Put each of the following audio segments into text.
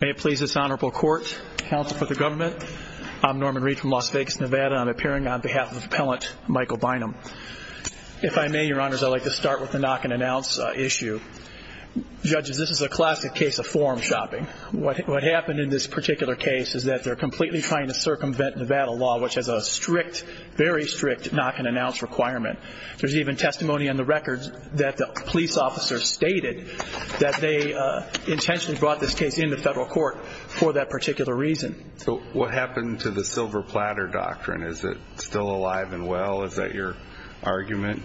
May it please this honorable court, counsel for the government, I'm Norman Reed from Las Vegas, Nevada. I'm appearing on behalf of appellant Michael Bynum. If I may, your honors, I'd like to start with the knock and announce issue. Judges, this is a classic case of forum shopping. What happened in this particular case is that they're completely trying to circumvent Nevada law, which has a strict, very strict knock and announce requirement. There's even testimony on the records that the police officer stated that they intentionally brought this case in the federal court for that particular reason. So what happened to the silver platter doctrine? Is it still alive and well? Is that your argument?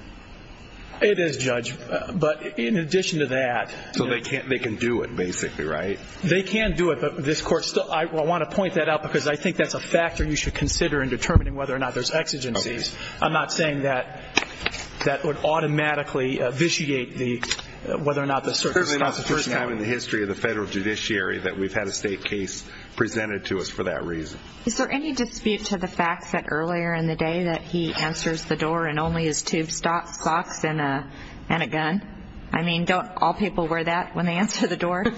It is, Judge, but in addition to that. So they can't, they can do it basically, right? They can do it, but this court still, I want to point that out because I think that's a factor you should consider in determining whether or not there's exigencies. I'm not saying that that would automatically vitiate whether or not the circumstances. This is the first time in the history of the federal judiciary that we've had a state case presented to us for that reason. Is there any dispute to the fact that earlier in the day that he answers the door in only his tube socks and a gun? I mean, don't all people wear that when they answer the door? I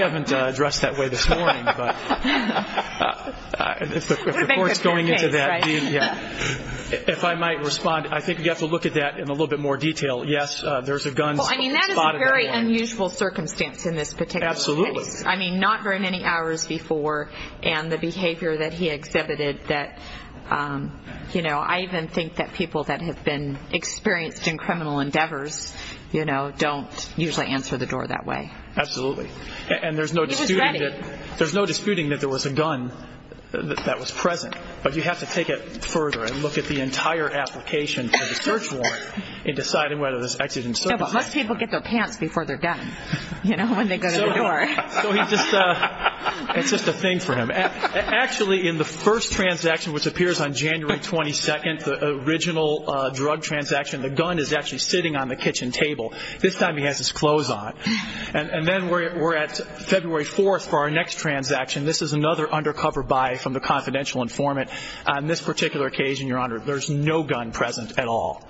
haven't addressed that way this morning, but if the court's going into that, if I might respond, I think you have to look at that in a little bit more detail. Yes, there's a gun. I mean, that is a very unusual circumstance in this particular case. I mean, not very many hours before and the behavior that he exhibited that, you know, I even think that people that have been experienced in criminal endeavors, you know, don't usually answer the door that way. Absolutely. And there's no disputing that there was a gun that was present, but you have to take it further and look at the entire application for the search warrant in deciding whether there's exigencies. Most people get their pants before they're done, you know, when they go to the door. It's just a thing for him. Actually, in the first transaction, which appears on January 22nd, the original drug transaction, the gun is actually sitting on the kitchen table. This time he has his clothes on. And then we're at February 4th for our next transaction. This is another undercover buy from the confidential informant. On this particular occasion, Your Honor, there's no gun present at all.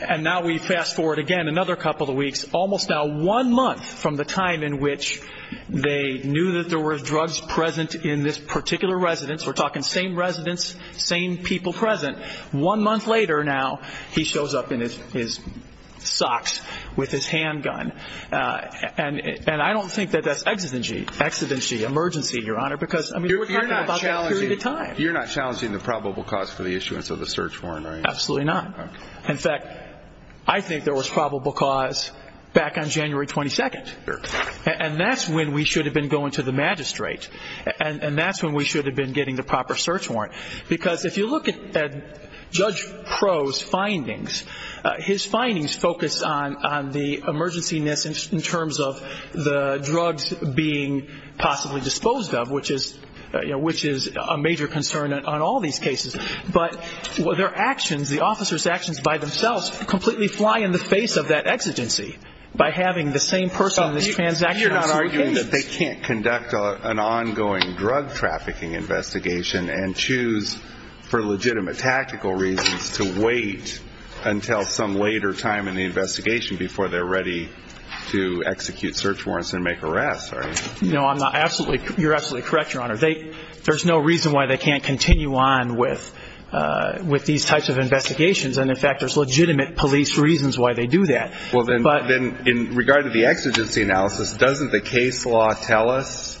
And now we fast forward again another couple of weeks, almost now one month from the time in which they knew that there were drugs present in this particular residence. We're talking same residence, same people present. One month later now, he shows up in his socks with his handgun. And I don't think that that's exigency emergency, Your Honor, because you're not challenging the probable cause for the issuance of the search warrant. Absolutely not. In fact, I think there was probable cause back on January 22nd. And that's when we should have been going to the magistrate. And that's when we should have been getting the His findings focus on the emergency in terms of the drugs being possibly disposed of, which is a major concern on all these cases. But their actions, the officer's actions by themselves completely fly in the face of that exigency by having the same person in this transaction. They can't conduct an ongoing drug trafficking investigation and choose for legitimate tactical reasons to wait until some later time in the investigation before they're ready to execute search warrants and make arrests, right? No, I'm not. You're absolutely correct, Your Honor. There's no reason why they can't continue on with these types of investigations. And in fact, there's legitimate police reasons why they do that. Well, then in regard to the exigency analysis, doesn't the case law tell us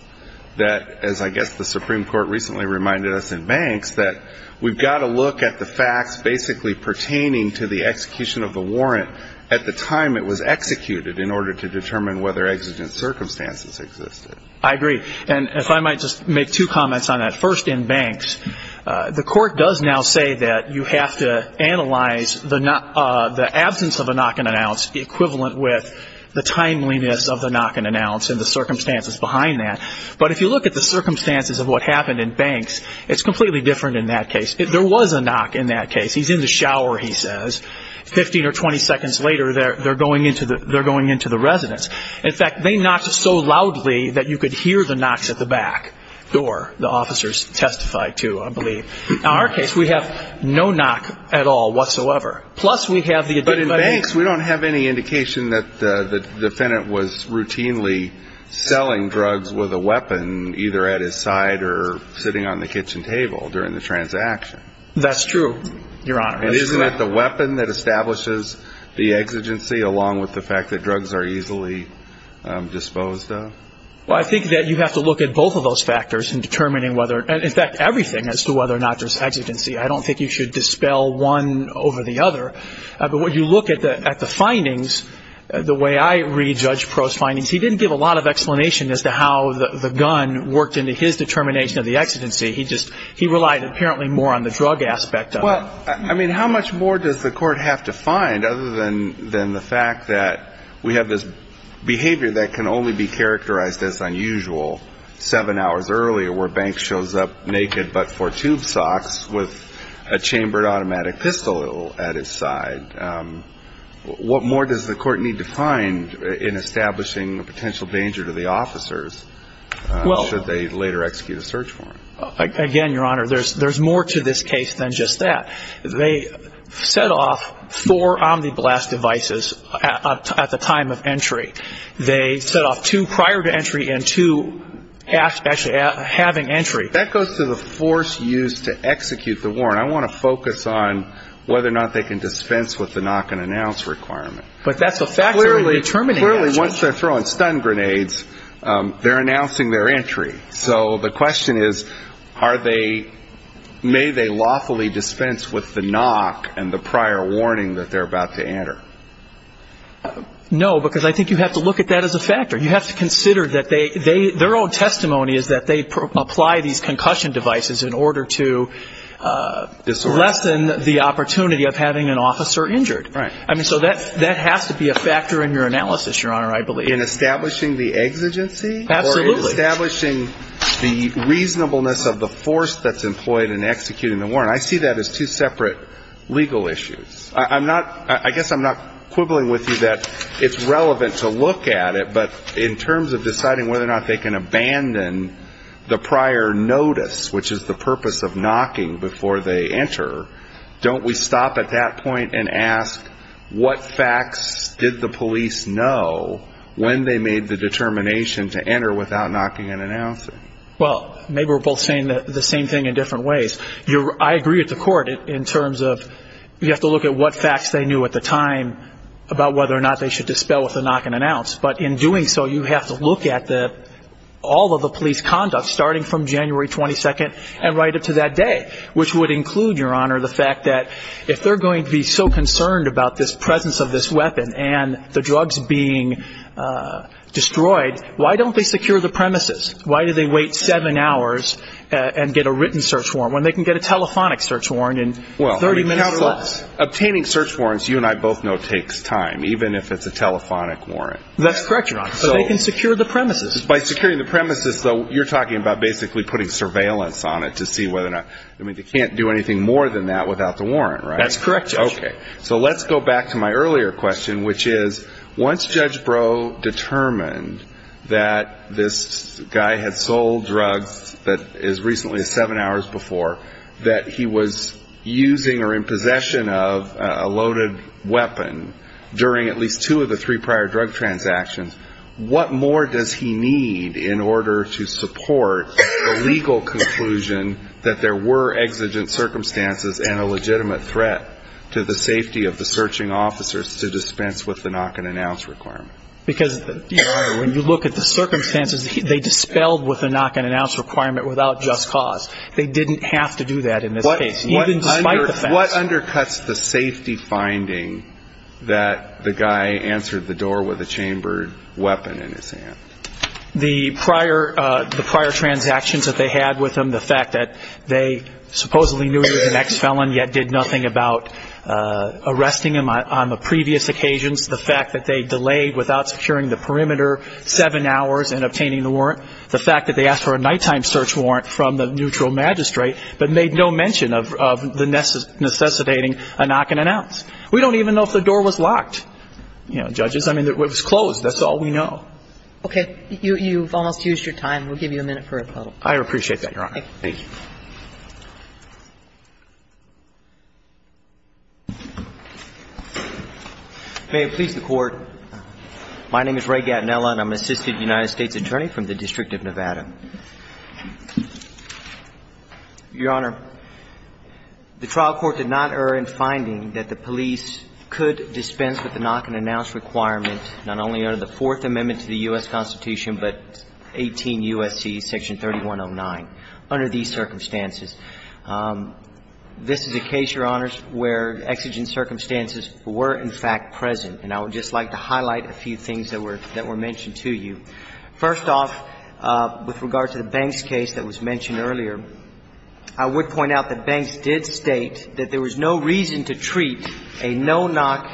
that, as I guess the Supreme Court recently reminded us in Banks, that we've got to look at the facts basically pertaining to the execution of the warrant at the time it was executed in order to determine whether exigent circumstances existed? I agree. And if I might just make two comments on that. First, in Banks, the court does now say that you have to analyze the absence of a knock-and-announce equivalent with the timeliness of the knock-and-announce and the circumstances behind that. But if you look at the circumstances of what happened in Banks, it's completely different in that case. There was a knock in that case. He's in the shower, he says. Fifteen or twenty seconds later, they're going into the residence. In fact, they knocked so loudly that you could hear the knocks at the back door, the officers testified to, I believe. In our case, we have no knock at all whatsoever. Plus, we have the addiction. But in Banks, we don't have any indication that the either at his side or sitting on the kitchen table during the transaction. That's true, Your Honor. And isn't it the weapon that establishes the exigency along with the fact that drugs are easily disposed of? Well, I think that you have to look at both of those factors in determining whether, and in fact everything, as to whether or not there's exigency. I don't think you should dispel one over the other. But when you look at the findings, the way I read Judge Proh's findings, he didn't give a lot of explanation as to how the gun worked into his determination of the exigency. He relied apparently more on the drug aspect of it. I mean, how much more does the court have to find other than the fact that we have this behavior that can only be characterized as unusual seven hours earlier where Banks shows up naked but for tube socks with a chambered automatic pistol at his side? What more does the court need to find in establishing a potential danger to the officers should they later execute a search warrant? Again, Your Honor, there's more to this case than just that. They set off four omni-blast devices at the time of entry. They set off two prior to entry and two actually having entry. That goes to the force used to execute the warrant. I want to focus on whether or not they can dispense with the knock and announce requirement. But that's a factor in determining that. Clearly, once they're throwing stun grenades, they're announcing their entry. So the question is, are they, may they lawfully dispense with the knock and the prior warning that they're about to enter? No, because I think you have to look at that as a factor. You have to consider that they, their own testimony is that they apply these concussion devices in order to lessen the opportunity of having an officer injured. Right. I mean, so that, that has to be a factor in your analysis, Your Honor, I believe. In establishing the exigency? Absolutely. Establishing the reasonableness of the force that's employed in executing the warrant. I see that as two separate legal issues. I'm not, I guess I'm not quibbling with you that it's relevant to look at it, but in terms of deciding whether or not they can abandon the prior notice, which is the purpose of knocking before they enter, don't we stop at that point and ask, what facts did the police know when they made the determination to enter without knocking and announcing? Well, maybe we're both saying the same thing in different ways. You're, I agree with the court in terms of, you have to look at what facts they knew at the time about whether or not they should dispel with a knock and announce. But in doing so, you have to look at the, all of the police conduct starting from January 22nd and right up to that day, which would include, Your Honor, the fact that if they're going to be so concerned about this presence of this weapon and the drugs being destroyed, why don't they secure the premises? Why do they wait seven hours and get a written search warrant when they can get a telephonic search warrant in 30 minutes or less? Obtaining search warrants, you and I both know, takes time, even if it's a telephonic warrant. That's correct, Your Honor, but they can secure the premises. By securing the premises, though, you're talking about basically putting surveillance on it to see whether or not, I mean, they can't do anything more than that without the warrant, right? That's correct, Judge. Okay. So let's go back to my earlier question, which is, once Judge Breaux determined that this guy had sold drugs as recently as seven hours before, that he was using or in possession of a loaded weapon during at least two of the three prior drug transactions, what more does he need in order to support the legal conclusion that there were exigent circumstances and a legitimate threat to the safety of the searching officers to dispense with the knock-and-announce requirement? Because, Your Honor, when you look at the circumstances, they dispelled with the knock-and-announce requirement without just cause. They didn't have to do that in this case, even despite the fact that they were in possession. What undercuts the safety finding that the guy answered the door with a chambered weapon in his hand? The prior transactions that they had with him, the fact that they supposedly knew he was an ex-felon, yet did nothing about arresting him on the previous occasions, the fact that they delayed without securing the perimeter seven hours in obtaining the warrant, the fact that they asked for a nighttime search warrant from the neutral magistrate, but made no mention of the necessitating a knock-and-announce. We don't even know if the door was locked, you know, Judges. I mean, it was closed. That's all we know. Okay. You've almost used your time. We'll give you a minute for a rebuttal. I appreciate that, Your Honor. Thank you. May it please the Court. My name is Ray Gatinella, and I'm an assistant United States attorney from the District of Nevada. Your Honor, the trial court did not err in finding requirement. Not only under the Fourth Amendment to the U.S. Constitution, but 18 U.S.C. Section 3109, under these circumstances. This is a case, Your Honors, where exigent circumstances were, in fact, present. And I would just like to highlight a few things that were mentioned to you. First off, with regard to the Banks case that was mentioned earlier, I would point out that Banks did state that there was no reason to treat a no-knock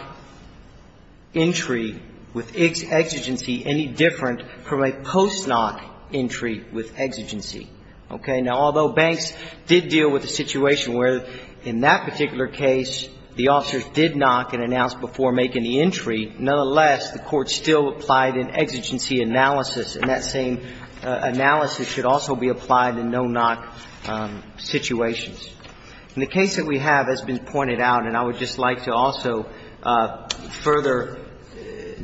entry with exigency any different from a post-knock entry with exigency. Okay. Now, although Banks did deal with a situation where, in that particular case, the officers did knock and announce before making the entry, nonetheless, the Court still applied an exigency analysis, and that same analysis should also be applied in no-knock situations. In the case that we have that's been mentioned, I would like to also further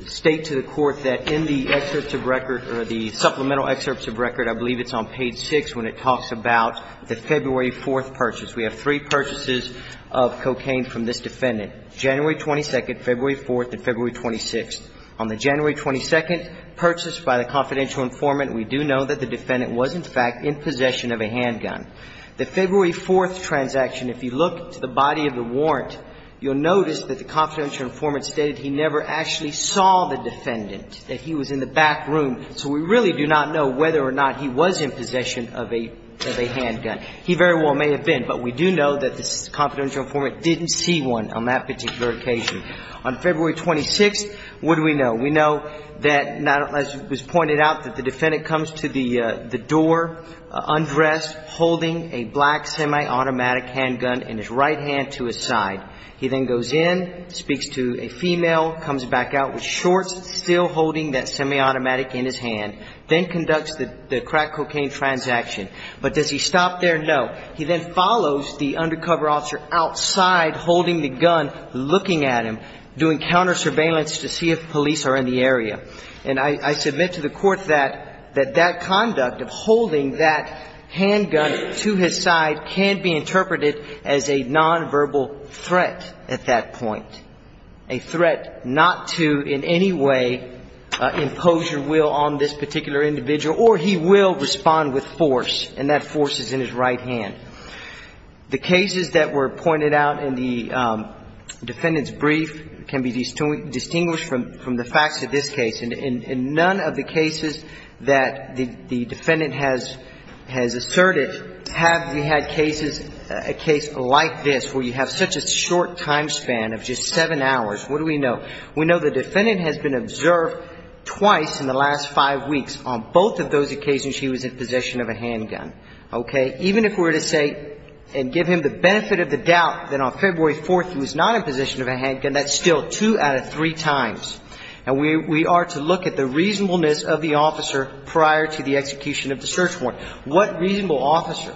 state to the Court that in the excerpts of record, or the supplemental excerpts of record, I believe it's on page 6, when it talks about the February 4th purchase. We have three purchases of cocaine from this defendant. January 22nd, February 4th, and February 26th. On the January 22nd purchase by the confidential informant, we do know that the defendant was, in fact, in possession of a handgun. The February 4th transaction, if you look to the body of the warrant, you'll notice that the confidential informant stated he never actually saw the defendant, that he was in the back room. So we really do not know whether or not he was in possession of a handgun. He very well may have been, but we do know that the confidential informant didn't see one on that particular occasion. On February 26th, what do we know? We know that, as was pointed out, that the defendant comes to the door undressed, holding a black semi-automatic handgun in his right hand to his side. He then goes in, speaks to a female, comes back out with shorts, still holding that semi-automatic in his hand, then conducts the crack cocaine transaction. But does he stop there? No. He then follows the undercover officer outside, holding the gun, looking at him, doing counter surveillance to see if police are in the area. And I submit to the Court that that conduct of holding that handgun to his side can be interpreted as a nonverbal threat at that point, a threat not to in any way impose your will on this particular individual, or he will respond with force, and that force is in his right hand. The cases that were pointed out in the defendant's brief can be distinguished from the facts of this case. In none of the cases that the defendant has asserted have we had cases, a case like this, where you have such a short time span of just seven hours. What do we know? We know the defendant has been observed twice in the last five weeks. On both of those occasions, he was in possession of a handgun. Okay? Even if we were to say and give him the benefit of the doubt that on February 4th he was not in possession of a handgun, we would know that three times. And we are to look at the reasonableness of the officer prior to the execution of the search warrant. What reasonable officer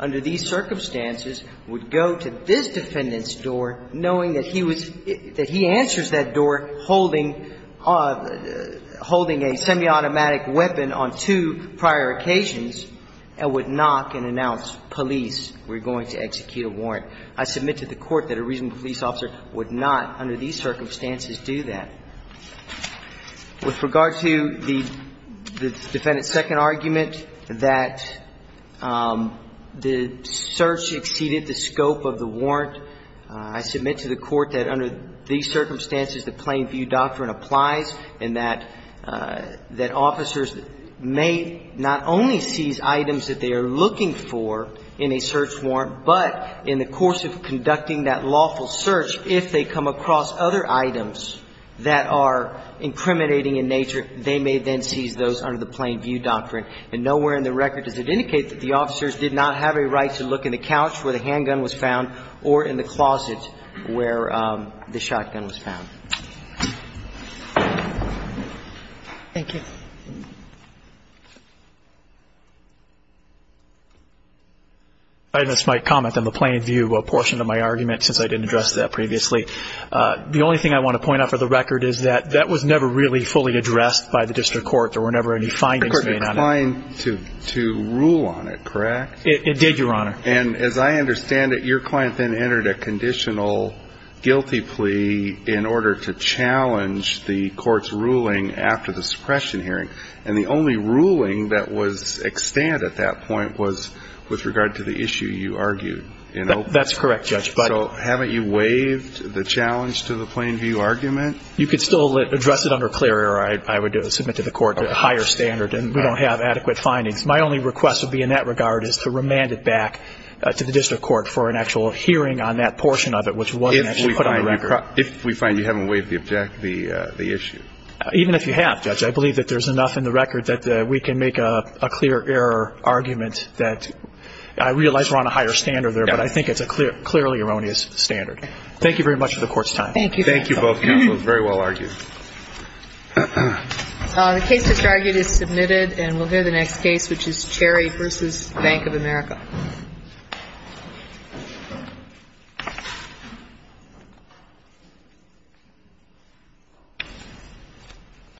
under these circumstances would go to this defendant's door knowing that he was – that he answers that door holding a semiautomatic weapon on two prior occasions and would knock and announce, police, we're going to execute a warrant. I submit to the Court that a reasonable police officer would not under these circumstances do that. With regard to the defendant's second argument that the search exceeded the scope of the warrant, I submit to the Court that under these circumstances the plain view doctrine applies and that officers may not only seize items that they are looking for in a search warrant, but in the course of conducting that lawful search, if they come across other items that are incriminating in nature, they may then seize those under the plain view doctrine. And nowhere in the record does it indicate that the officers did not have a right to look in the couch where the handgun was found or in the closet where the shotgun was found. Thank you. I just might comment on the plain view portion of my argument since I didn't address that previously. The only thing I want to point out for the record is that that was never really fully addressed by the district court. There were never any findings made on it. The court declined to rule on it, correct? It did, Your Honor. And as I understand it, your client then entered a conditional guilty plea in order to challenge the court's ruling after the suppression hearing. And the only ruling that was extant at that point was with regard to the issue you argued. That's correct, Judge. So haven't you waived the challenge to the plain view argument? You could still address it under Clery or I would submit to the Court a higher standard and we don't have adequate findings. My only request would be in that regard. And I think it's a clearly erroneous standard. Thank you very much for the Court's time. Thank you. Thank you both counsel. It was very well argued. The case just argued is submitted and we'll hear the next case which is Cherry Thank you. Thank you. Thank you. Thank you. Thank you. Thank you. Thank you. Thank you. Thank you.